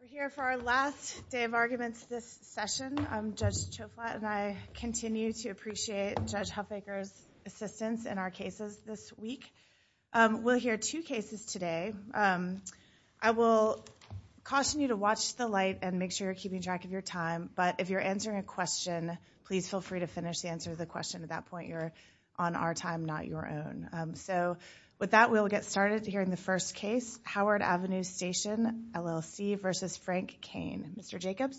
We're here for our last day of arguments this session. I'm Judge Choflat and I continue to appreciate Judge Huffaker's assistance in our cases this week. We'll hear two cases today. I will caution you to watch the light and make sure you're keeping track of your time, but if you're answering a question, please feel free to finish the answer of the question. At that point, you're on our time, not your own. So with that, we'll get started here in the first case, Howard Avenue Station, LLC versus Frank Kane. Mr. Jacobs.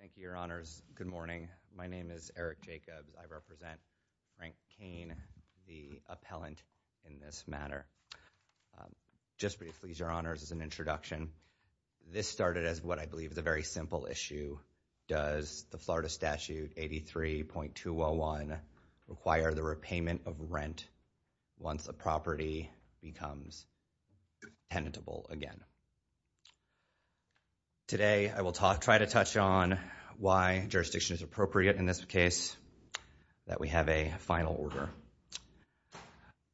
Thank you, your honors. Good morning. My name is Eric Jacobs. I represent Frank Kane, the appellant in this matter. Just briefly, your honors, as an introduction, this started as what I believe is a very simple issue. Does the Florida Statute 83.201 require the repayment of rent once a property becomes tenable again? Today, I will try to touch on why jurisdiction is appropriate in this case, that we have a final order,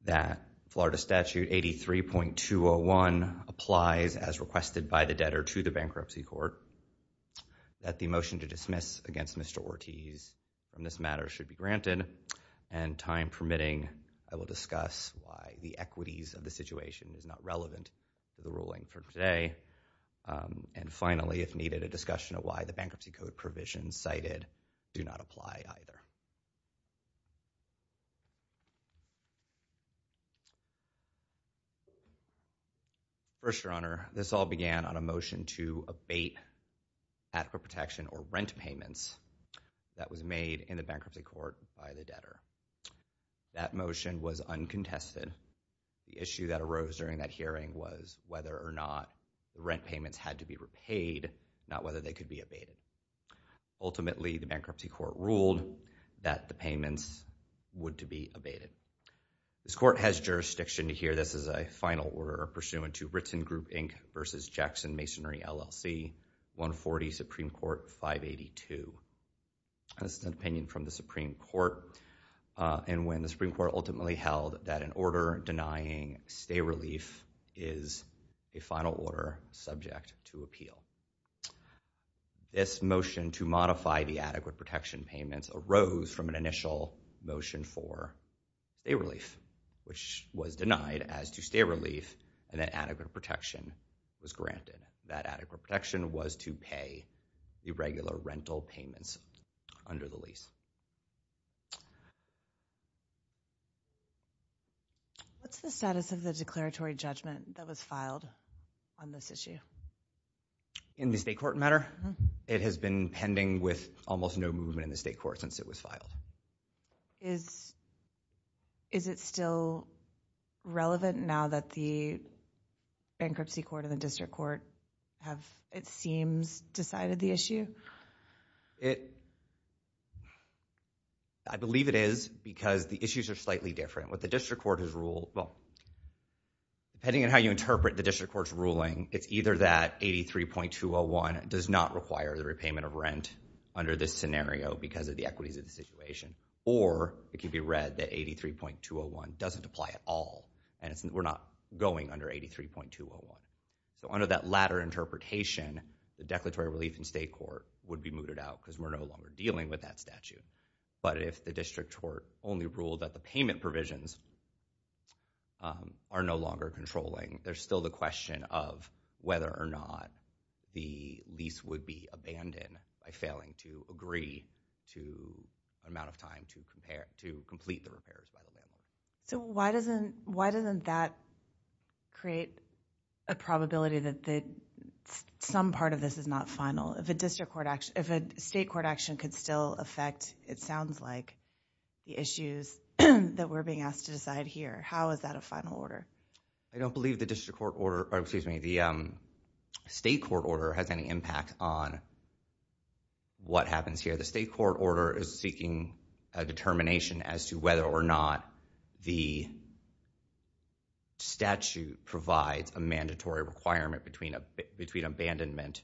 that Florida Statute 83.201 applies as requested by the debtor to the bankruptcy court, that the motion to dismiss against Mr. Ortiz on this matter should be granted, and time permitting, I will discuss why the equities of the situation is not relevant to the ruling for today, and finally, if needed, a discussion of why the bankruptcy code provisions cited do not apply either. First, your honor, this all began on a motion to abate adequate protection or rent payments that was made in the bankruptcy court by the debtor. That motion was uncontested. The issue that arose during that hearing was whether or not rent payments had to be repaid, not whether they could be abated. Ultimately, the bankruptcy court ruled that the payments would to be abated. This court has jurisdiction to hear this as a final order pursuant to Ritson Group, Inc. v. Jackson Masonry, LLC, 140 Supreme Court 582. This is an opinion from the Supreme Court, and when the Supreme Court ultimately held that an order denying stay relief is a final order subject to appeal. This motion to modify the adequate protection payments arose from an initial motion for stay relief, which was denied as to stay relief, and that adequate protection was granted. That adequate protection was to pay the regular rental payments under the lease. What's the status of the declaratory judgment that was filed on this issue? In the state court matter? It has been pending with almost no movement in the state court since it was filed. Is it still relevant now that the bankruptcy court and the district court have, it seems, decided the issue? I believe it is, because the issues are slightly different. What the district court has ruled, well, depending on how you interpret the district court's ruling, it's either that 83.201 does not require the repayment of rent under this scenario because of the equities of the situation, or it can be read that 83.201 doesn't apply at all, and we're not going under 83.201. Under that latter interpretation, the declaratory relief in state court would be mooted out because we're no longer dealing with that statute, but if the district court only ruled that the payment provisions are no longer controlling, there's still the question of whether or not the lease would be abandoned by failing to agree to the amount of time to complete the repairs. Why doesn't that create a probability that some part of this is not final? If a state court action could still affect, it sounds like, the issues that we're being asked to decide here, how is that a final order? I don't believe the state court order has any impact on what happens here. The state court order is seeking a determination as to whether or not the statute provides a mandatory requirement between abandonment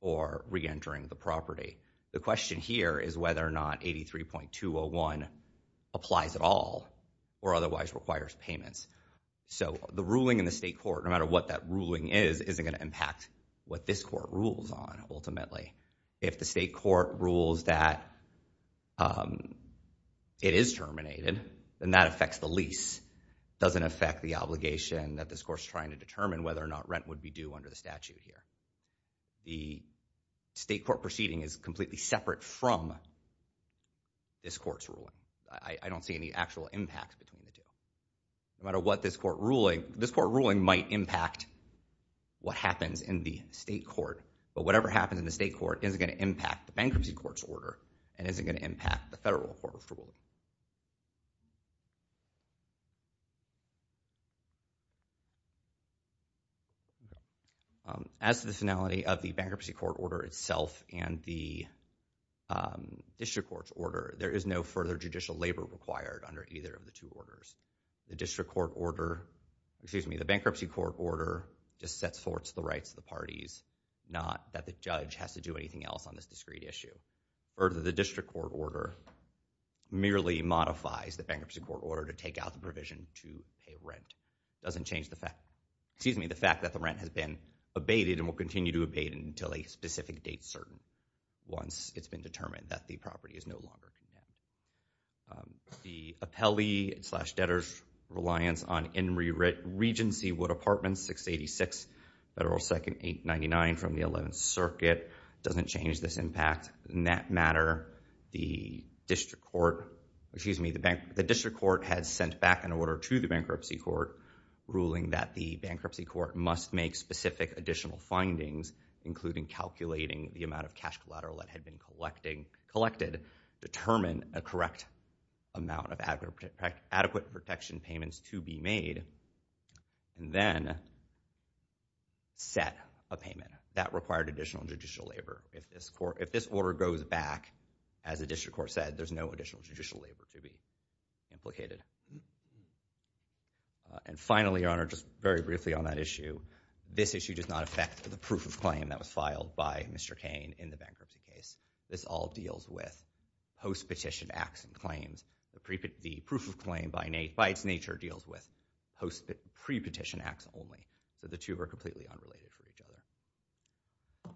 or re-entering the property. The question here is whether or not 83.201 applies at all, or otherwise requires payments. The ruling in the state court, no matter what that ruling is, isn't going to impact what this court rules on, ultimately. If the state court rules that it is terminated, then that affects the lease. It doesn't affect the obligation that this court's trying to determine whether or not rent would be due under the statute here. The state court proceeding is completely separate from this court's ruling. I don't see any actual impact. No matter what this court ruling might impact what happens in the state court, but whatever happens in the state court isn't going to impact the bankruptcy court's order, and isn't going to impact the federal court's rule. As to the finality of the bankruptcy court order itself and the district court's order, there is no further judicial labor required under either of the two orders. The district court order, excuse me, the bankruptcy court order just sets forth the rights of the parties, not that the judge has to do anything else on this discreet issue. Or the district court order merely modifies the bankruptcy court order to take out the provision to pay rent. It doesn't change the fact, excuse me, the fact that the rent has been abated and will continue to abate until a specific date is certain, once it's been determined that the Regency Wood Apartments, 686 Federal 2nd, 899 from the 11th Circuit, doesn't change this impact. In that matter, the district court, excuse me, the district court has sent back an order to the bankruptcy court ruling that the bankruptcy court must make specific additional findings, including calculating the amount of cash collateral that had been be made, and then set a payment. That required additional judicial labor. If this order goes back, as the district court said, there's no additional judicial labor to be implicated. And finally, Your Honor, just very briefly on that issue, this issue does not affect the proof of claim that was filed by Mr. Kane in the bankruptcy case. This all deals with pre-petition acts only. So the two are completely unrelated for each other.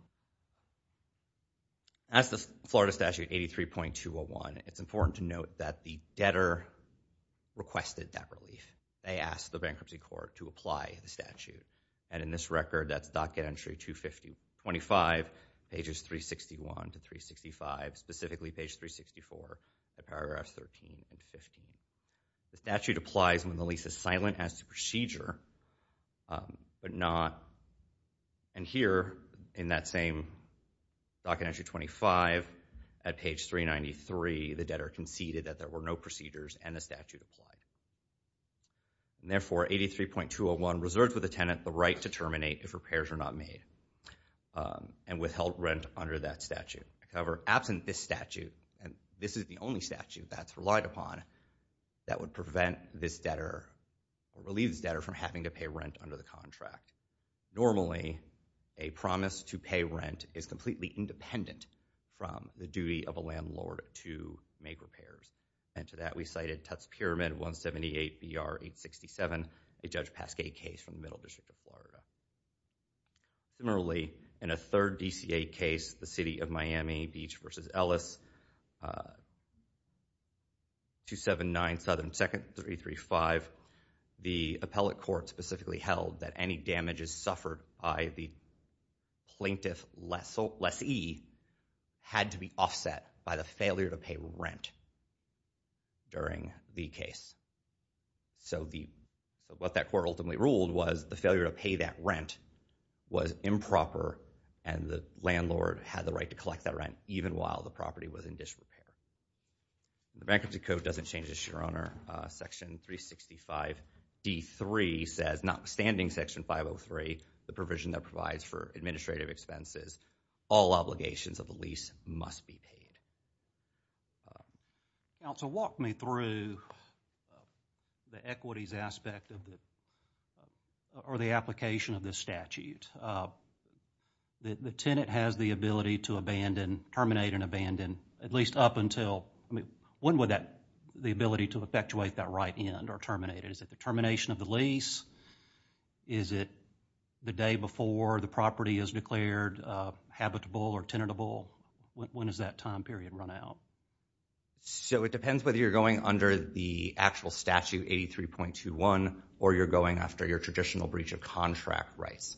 As the Florida Statute 83.201, it's important to note that the debtor requested that relief. They asked the bankruptcy court to apply the statute. And in this record, that's Docket Entry 255, pages 361 to 365, specifically page 364, paragraphs 13 and 15. The statute applies when the lease is silent as to procedure, but not. And here, in that same Docket Entry 25, at page 393, the debtor conceded that there were no procedures, and the statute applied. And therefore, 83.201 reserves with the tenant the right to terminate if repairs are not made, and withheld rent under that statute. However, absent this statute, and this is the only statute that's relied upon, that would prevent this debtor, or relieve this debtor from having to pay rent under the contract. Normally, a promise to pay rent is completely independent from the duty of a landlord to make repairs. And to that, we cited Tutte's Pyramid 178 BR 867, a Judge Pasquet case from the Middle District of Florida. Similarly, in a third DCA case, the City of Miami, Beach v. Ellis, 279 Southern 2nd 335, the appellate court specifically held that any damages suffered by the plaintiff lessee had to be offset by the failure to pay rent during the case. So what that court ultimately ruled was the failure to pay that rent was improper, and the landlord had the right to collect that rent, even while the property was in disrepair. The Bankruptcy Code doesn't change this, Your Honor. Section 365 D3 says, notwithstanding Section 503, the provision that provides for administrative expenses, all obligations of the lease must be paid. Counsel, walk me through the equities aspect or the application of this statute. The tenant has the ability to terminate and abandon, at least up until, I mean, when would the ability to effectuate that right end are terminated? Is it the termination of the lease? Is it the day before the property is declared habitable or tenable? When is that time period run out? So it depends whether you're going under the actual statute, 83.21, or you're going after your traditional breach of contract rights.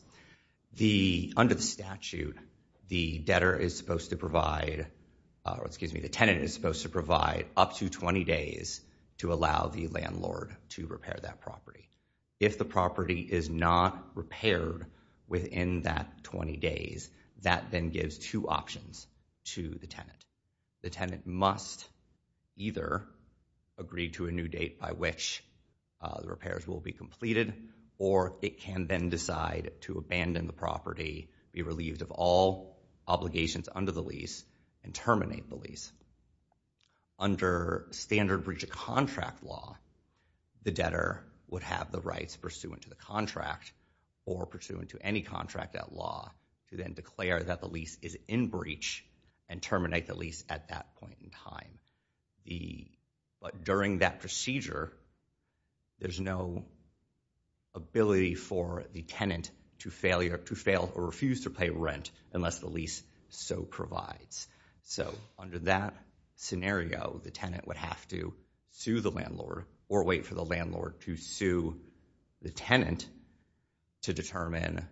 Under the statute, the debtor is supposed to provide, or excuse me, the tenant is supposed to provide up to 20 days to allow the landlord to repair that property. If the property is not repaired within that 20 days, that then gives two options to the tenant. The tenant must either agree to a new date by which the repairs will be completed, or it can then decide to abandon the property, be relieved of all obligations under the lease, and terminate the lease. Under standard breach of contract law, the debtor would have the rights pursuant to the contract, or pursuant to any contract at law, to then declare that the lease is in breach and terminate the lease at that point in time. But during that procedure, there's no ability for the tenant to fail or refuse to pay rent unless the lease so provides. So under that scenario, the tenant would have to sue the landlord, or wait for the landlord to sue the tenant to determine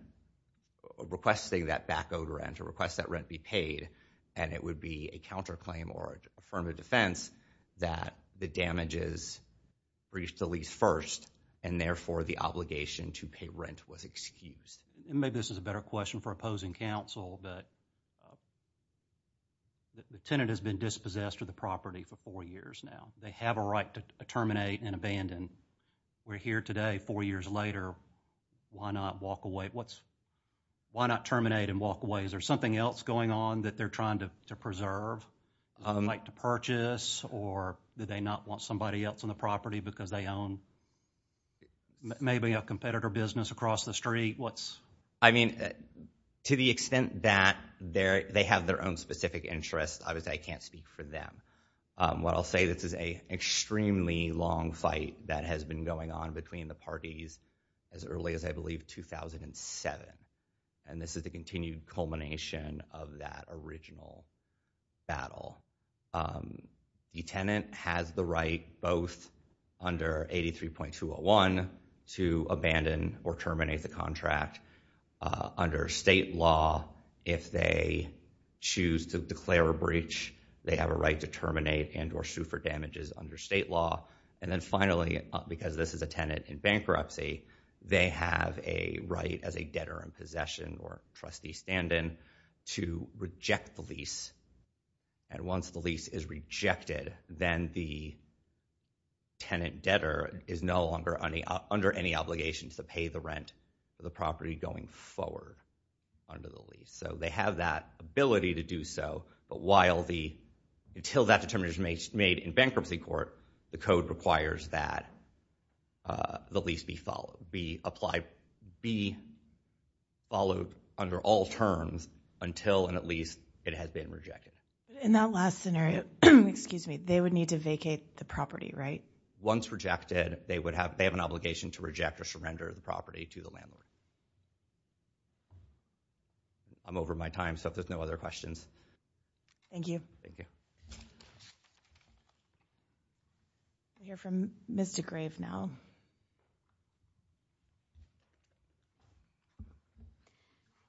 requesting that back owed rent, or request that rent be paid, and it would be a counter claim or affirmative defense that the damages breached the lease first, and therefore the obligation to pay rent was excused. Maybe this is a better question for opposing counsel, but the tenant has been dispossessed of the property for four years now. They have a right to terminate and abandon. We're here today four years later, why not walk away? Why not terminate and walk away? Is there something else going on that they're trying to preserve, like to purchase, or do they not want somebody else on the property because they own maybe a competitor business across the street? To the extent that they have their own specific interests, I can't speak for them. What I'll say is this is an extremely long fight that has been going on between the parties as early as I believe 2007, and this is the continued culmination of that original battle. The tenant has the right both under 83.201 to abandon or terminate the contract, under state law if they choose to declare a breach, they have a right to terminate and or sue for damages under state law, and then finally, because this is a tenant in bankruptcy, they have a right as a debtor in possession or trustee stand-in to reject the lease, and once the tenant debtor is no longer under any obligations to pay the rent of the property going forward under the lease. So they have that ability to do so, but until that determination is made in bankruptcy court, the code requires that the lease be followed under all terms until and at least it has been rejected. In that last scenario, excuse me, they would need to vacate the property, right? Once rejected, they have an obligation to reject or surrender the property to the landlord. I'm over my time, so if there's no other questions. Thank you. Thank you. We'll hear from Ms. DeGrave now.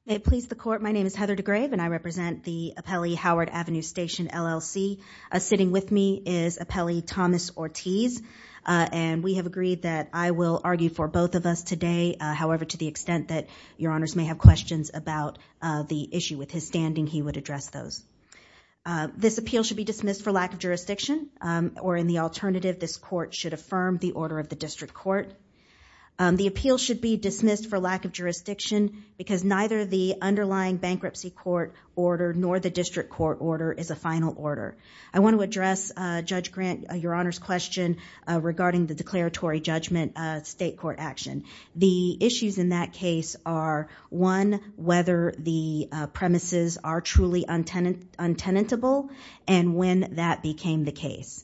May it please the court, my name is Heather DeGrave, and I represent the appellee Howard Avenue Station, LLC. Sitting with me is appellee Thomas Ortiz, and we have agreed that I will argue for both of us today. However, to the extent that your honors may have questions about the issue with his standing, he would address those. This appeal should be dismissed for lack of jurisdiction, or in the alternative, this appeal should be dismissed for lack of jurisdiction because neither the underlying bankruptcy court order nor the district court order is a final order. I want to address Judge Grant, your honors question regarding the declaratory judgment state court action. The issues in that case are one, whether the premises are truly untenable, and when that became the case.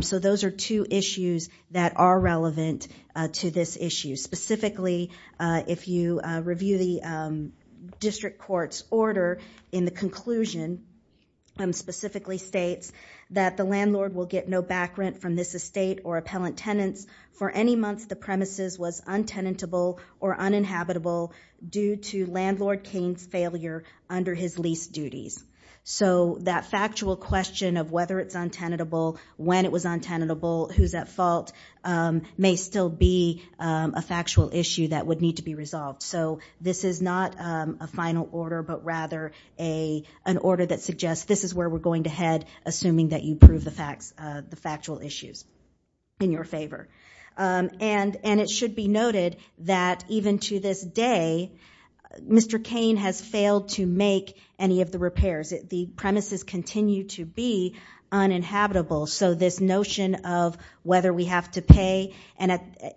So those are two issues that are relevant to this issue. Specifically, if you review the district court's order, in the conclusion, specifically states that the landlord will get no back rent from this estate or appellant tenants for any months the premises was untenable or uninhabitable due to landlord Kane's failure under his lease duties. So that factual question of whether it's untenable, when it was untenable, who's at fault, may still be a factual issue that would need to be resolved. So this is not a final order, but rather an order that suggests this is where we're going to head, assuming that you prove the factual issues in your favor. And it should be noted that even to this day, Mr. Kane has failed to make any of the repairs. The premises continue to be uninhabitable. So this notion of whether we have to pay,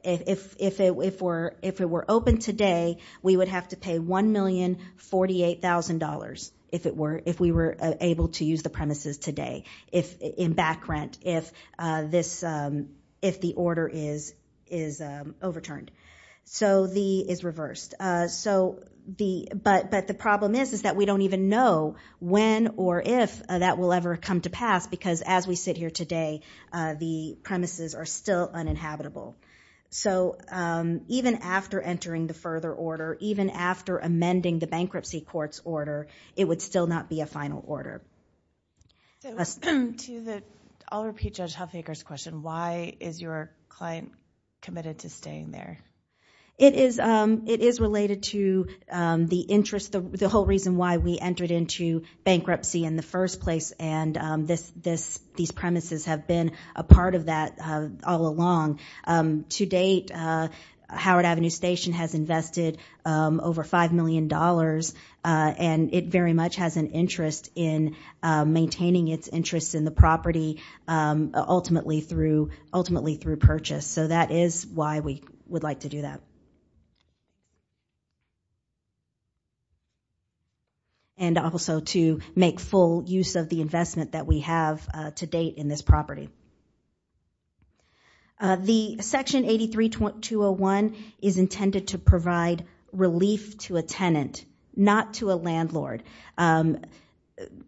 if it were open today, we would have to pay $1,048,000 if we were able to use the premises today, in back rent, if the order is overturned, is reversed. But the problem is that we don't even know when or if that will ever come to pass, because as we sit here today, the premises are still uninhabitable. So even after entering the further order, even after amending the order, we still don't know when or if that will ever come to pass. I'll repeat Judge Huffaker's question. Why is your client committed to staying there? It is related to the interest, the whole reason why we entered into bankruptcy in the first place, and these premises have been a part of that all along. To date, Howard Avenue Station has invested over $5 million, and it very much has an interest in maintaining its interest in the property ultimately through purchase. So that is why we would like to do that. And also to make full use of the investment that we have to date in this property. The Section 83201 is intended to provide relief to a tenant, not to a landlord.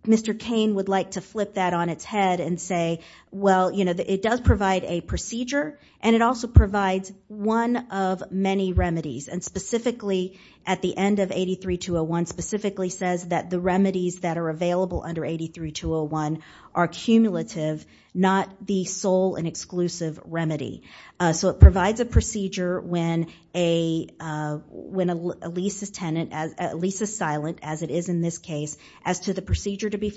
Mr. Cain would like to flip that on its head and say, well, it does provide a procedure, and it also provides one of many remedies. And specifically, at the end of 83201, specifically says that the remedies that are available under 83201 are cumulative, not the sole and exclusive remedy. So it provides a procedure when a lease is silent, as it is in this case, as to the procedure to be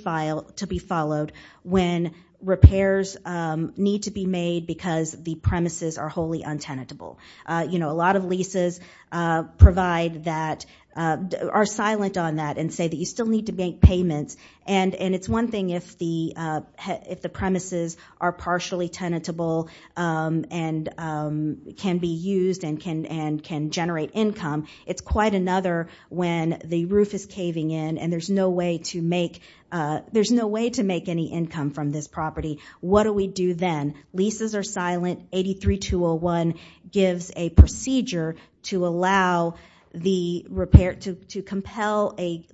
followed when repairs need to be made because the premises are wholly untenable. You know, a lot of leases provide that, are silent on that and say that you still need to make payments. And it's one thing if the premises are partially tenable and can be used and can generate income. It's quite another when the roof is caving in and there's no way to make, there's no way to make any income from this property. What do we do then? Leases are silent, 83201 gives a procedure to allow the repair, to compel a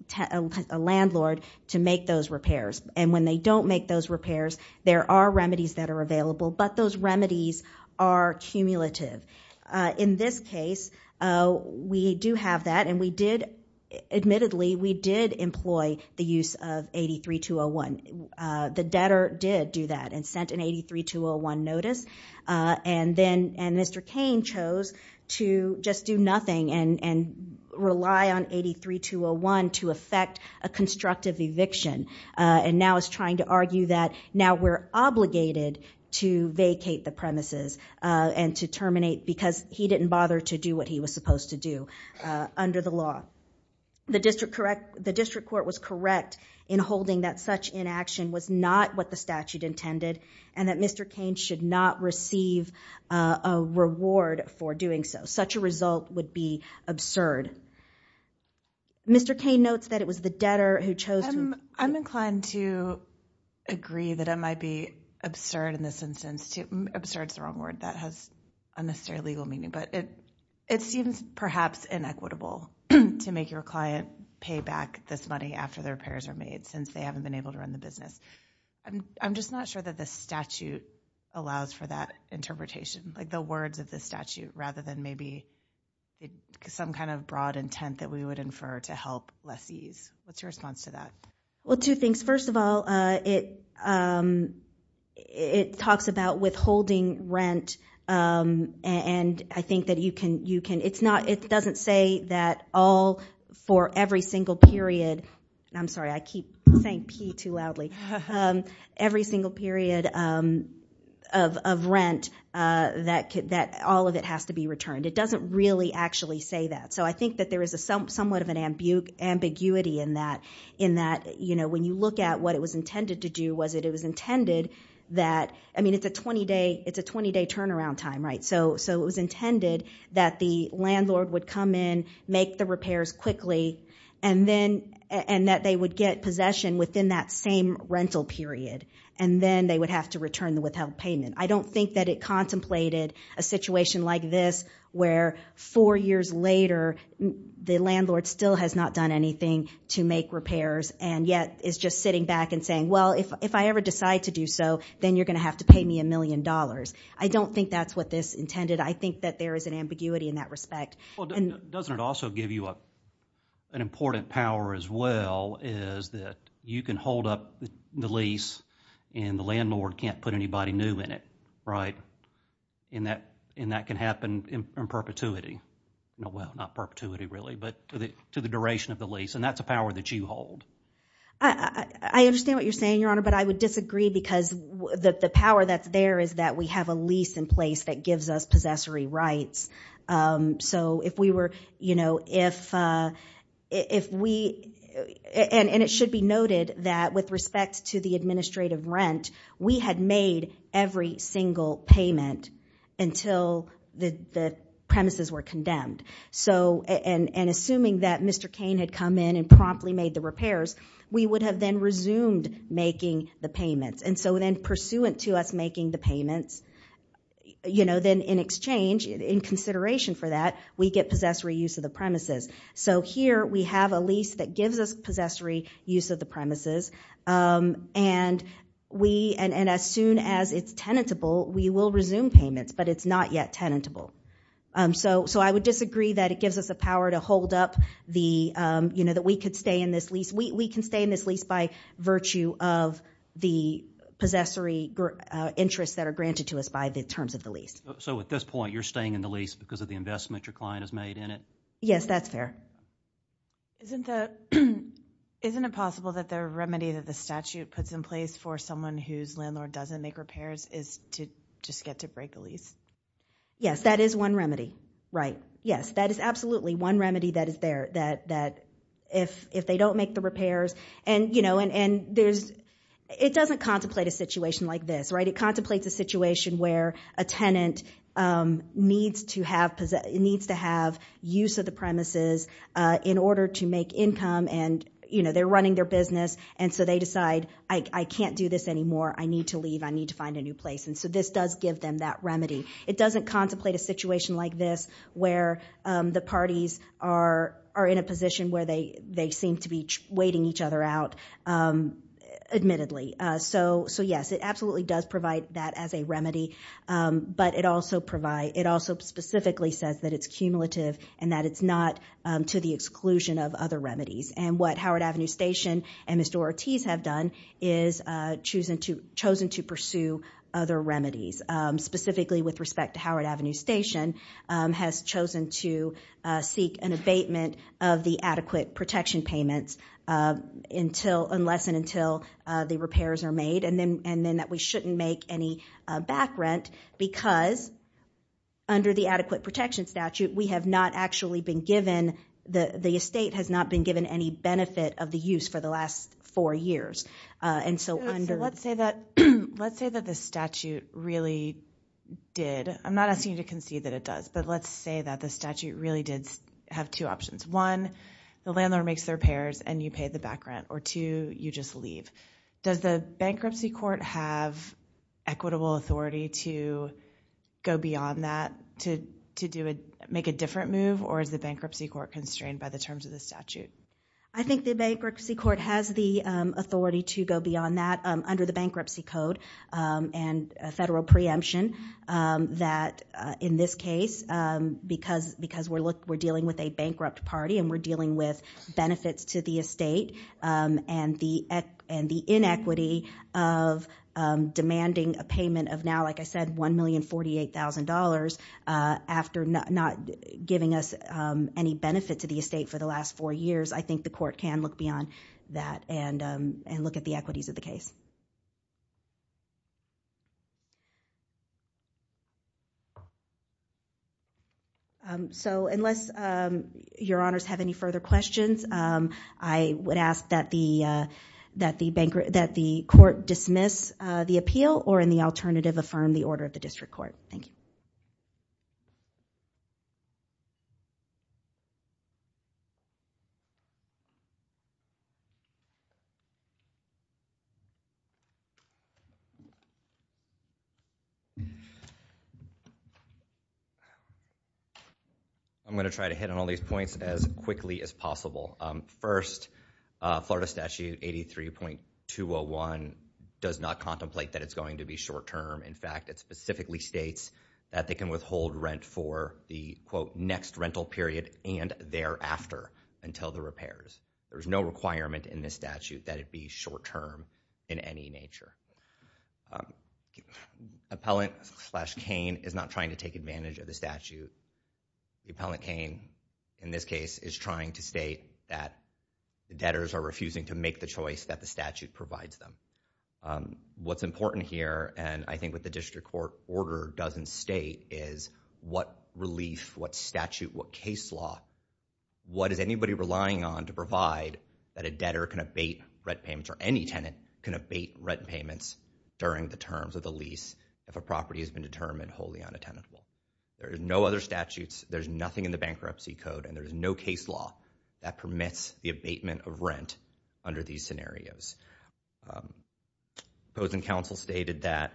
landlord to make those repairs. And when they don't make those repairs, there are remedies that are available, but those remedies are cumulative. In this case, we do have that, and we did, admittedly, we did not allow the use of 83201. The debtor did do that and sent an 83201 notice. And Mr. Cain chose to just do nothing and rely on 83201 to effect a constructive eviction. And now is trying to argue that now we're obligated to vacate the premises and to terminate because he didn't bother to do what he was supposed to do under the law. The district court was correct in holding that such inaction was not what the statute intended and that Mr. Cain should not receive a reward for doing so. Such a result would be absurd. Mr. Cain notes that it was the debtor who chose to- I'm inclined to agree that it might be absurd in this instance. Absurd is the wrong word. That has unnecessary legal meaning, but it seems perhaps inequitable to make your client pay back this money after the repairs are made, since they haven't been able to run the business. I'm just not sure that the statute allows for that interpretation, like the words of the statute, rather than maybe some kind of broad intent that we would infer to help lessees. What's your response to that? Well, two things. First of all, it talks about withholding rent, and I think that you can- it doesn't say that all, for every single period- I'm sorry, I keep saying P too loudly- every single period of rent, that all of it has to be returned. It doesn't really actually say that. I think that there is somewhat of an ambiguity in that, in that when you look at what it was intended to do, it was intended that- I mean, it's a 20-day turnaround time, so it was intended that the landlord would come in, make the repairs quickly, and that they would get possession within that same rental period, and then they would have to return the withheld payment. I don't think that it contemplated a situation like this, where four years later, the landlord still has not done anything to make repairs, and yet is just sitting back and saying, well, if I ever decide to do so, then you're going to have to pay me a million dollars. I don't think that's what this intended. I think that there is an ambiguity in that respect. Well, doesn't it also give you an important power as well, is that you can hold up the lease, and the landlord can't put anybody new in it, right? And that can happen in perpetuity. Well, not perpetuity, really, but to the duration of the lease, and that's a power that you hold. I understand what you're saying, Your Honor, but I would disagree, because the power that's there is that we have a lease in place that gives us possessory rights. So, if we were, you know, if we, and it should be noted that with respect to the administrative rent, we had made every single payment until the premises were condemned. So, and assuming that Mr. Repairs, we would have then resumed making the payments. And so, then pursuant to us making the payments, you know, then in exchange, in consideration for that, we get possessory use of the premises. So, here we have a lease that gives us possessory use of the premises, and we, and as soon as it's tenable, we will resume payments, but it's not yet tenable. So, I would disagree that it gives us a power to hold up the, you know, that we could stay in this lease. We can stay in this lease by virtue of the possessory interests that are granted to us by the terms of the lease. So at this point, you're staying in the lease because of the investment your client has made in it? Yes, that's fair. Isn't the, isn't it possible that the remedy that the statute puts in place for someone whose landlord doesn't make repairs is to just get to break the lease? Yes, that is one remedy, right. Yes, that is absolutely one remedy that is there, that if they don't make the repairs, and you know, and there's, it doesn't contemplate a situation like this, right. It contemplates a situation where a tenant needs to have, needs to have use of the premises in order to make income, and you know, they're running their business, and so they decide, I can't do this anymore, I need to leave, I need to find a new place, and so this does give them that remedy. It doesn't contemplate a situation like this where the parties are in a position where they seem to be waiting each other out, admittedly. So yes, it absolutely does provide that as a remedy, but it also provides, it also specifically says that it's cumulative and that it's not to the exclusion of other remedies, and what Howard Avenue Station and Mr. Ortiz have done is chosen to pursue other remedies, specifically with respect to Howard Avenue Station, has chosen to seek an abatement of the adequate protection payments until, unless and until the repairs are made, and then that we shouldn't make any back rent because under the adequate protection statute, we have not actually been given, the estate has not been given any benefit of the use for the last four years, So let's say that, let's say that the statute really did, I'm not asking you to concede that it does, but let's say that the statute really did have two options. One, the landlord makes the repairs and you pay the back rent, or two, you just leave. Does the bankruptcy court have equitable authority to go beyond that, to make a different move, or is the bankruptcy court constrained by the terms of the statute? I think the bankruptcy court has the authority to go beyond that. Under the bankruptcy code and federal preemption, that in this case, because we're dealing with a bankrupt party and we're dealing with benefits to the estate and the inequity of demanding a payment of now, like I said, $1,048,000 after not giving us any benefit to the estate for the last four years, I think the court can look beyond that and look at the equities of the case. So unless your honors have any further questions, I would ask that the court dismiss the appeal or in the alternative, affirm the order of the district court. Thank you. I'm going to try to hit on all these points as quickly as possible. First, Florida Statute 83.201 does not contemplate that it's going to be short term. In fact, it specifically states that they can withhold rent for the quote next rental period and thereafter until the repairs. There's no requirement in this statute that it be short term in any nature. Appellant slash Kane is not trying to take advantage of the statute. The appellant Kane in this case is trying to state that debtors are refusing to make the choice that the statute provides them. What's important here and I think what the district court order doesn't state is what relief, what statute, what case law, what is anybody relying on to provide that a debtor can abate rent payments or any tenant can abate rent payments during the terms of the lease if a property has been determined wholly unattainable. There's no other statutes, there's nothing in the bankruptcy code and there's no case law that permits the abatement of rent under these scenarios. Opposing counsel stated that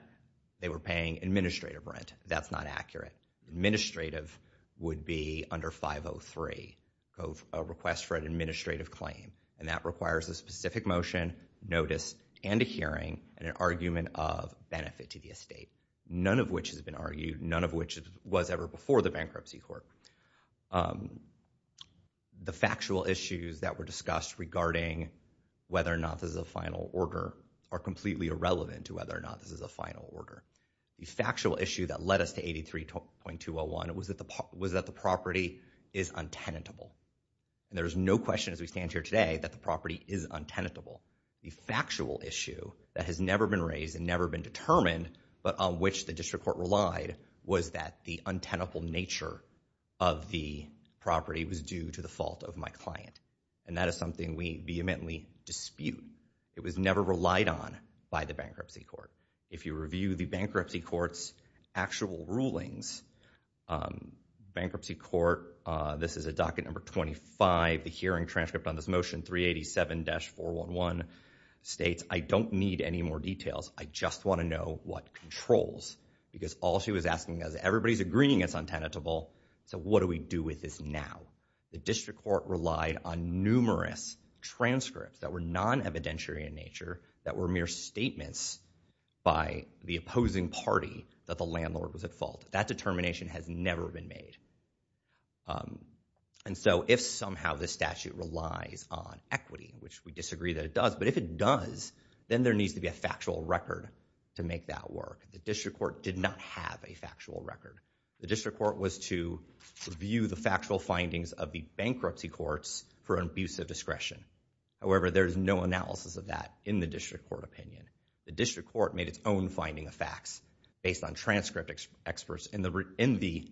they were paying administrative rent. That's not accurate. Administrative would be under 503 of a request for an administrative claim and that requires a specific motion, notice, and a hearing and an argument of benefit to the estate. None of which has been argued, none of which was ever before the bankruptcy court. The factual issues that were discussed regarding whether or not this is a final order are completely irrelevant to whether or not this is a final order. The factual issue that led us to 83.201 was that the property is untenable. There's no question as we stand here today that the property is untenable. The factual issue that has never been raised and never been determined but on which the district court relied was that the untenable nature of the property was due to the fault of my client. And that is something we vehemently dispute. It was never relied on by the bankruptcy court. If you review the bankruptcy court's actual rulings, bankruptcy court, this is a docket number 25, the hearing transcript on this motion 387-411 states I don't need any more details, I just want to know what controls because all she was asking us, everybody's agreeing it's untenable, so what do we do with this now? The district court relied on numerous transcripts that were non-evidentiary in nature that were mere statements by the opposing party that the landlord was at fault. That determination has never been made. And so if somehow the statute relies on equity, which we disagree that it does, but if it does, then there needs to be a factual record to make that work. The district court did not have a factual record. The district court was to review the factual findings of the bankruptcy courts for an abuse of discretion. However, there's no analysis of that in the district court opinion. The district court made its own finding of facts based on transcript experts in the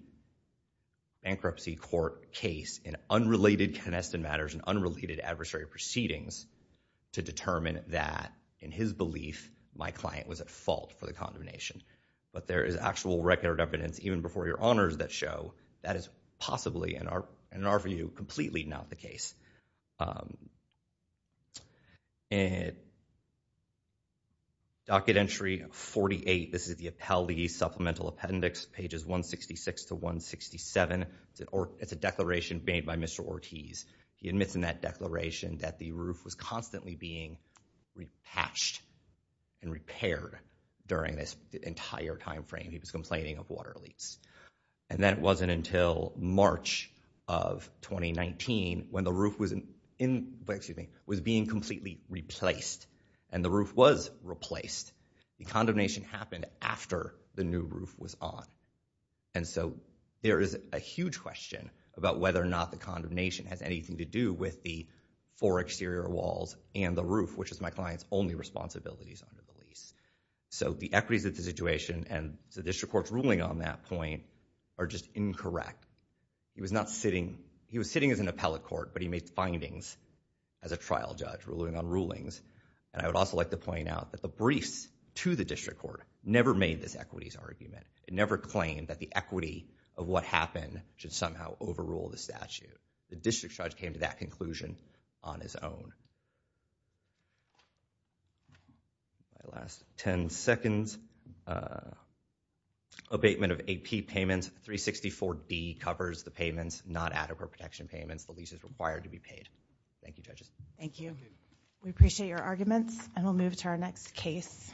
bankruptcy court case in unrelated connested matters and unrelated adversary proceedings to determine that in his belief my client was at fault for the condemnation. But there is actual record of evidence even before your honors that show that is possibly in our view completely not the case. Docket entry 48, this is the Appellee Supplemental Appendix, pages 166 to 167. It's a declaration made by Mr. Ortiz. He admits in that declaration that the roof was constantly being repatched and repaired during this entire time frame. He was complaining of water leaks. And that wasn't until March of 2019 when the roof was being completely replaced. And the roof was replaced. The condemnation happened after the new roof was on. And so there is a huge question about whether or not the condemnation has anything to do with the four exterior walls and the roof, which is my client's only responsibilities under the lease. So the equities of the situation and the district court's ruling on that point are just incorrect. He was not sitting, he was sitting as an appellate court, but he made findings as a trial judge ruling on rulings. And I would also like to point out that the briefs to the district court never made this equities argument. It never claimed that the equity of what happened should somehow overrule the statute. The district judge came to that conclusion on his own. My last 10 seconds. Abatement of AP payments, 364D covers the payments, not adequate protection payments. The lease is required to be paid. Thank you, judges. Thank you. We appreciate your arguments and we'll move to our next case.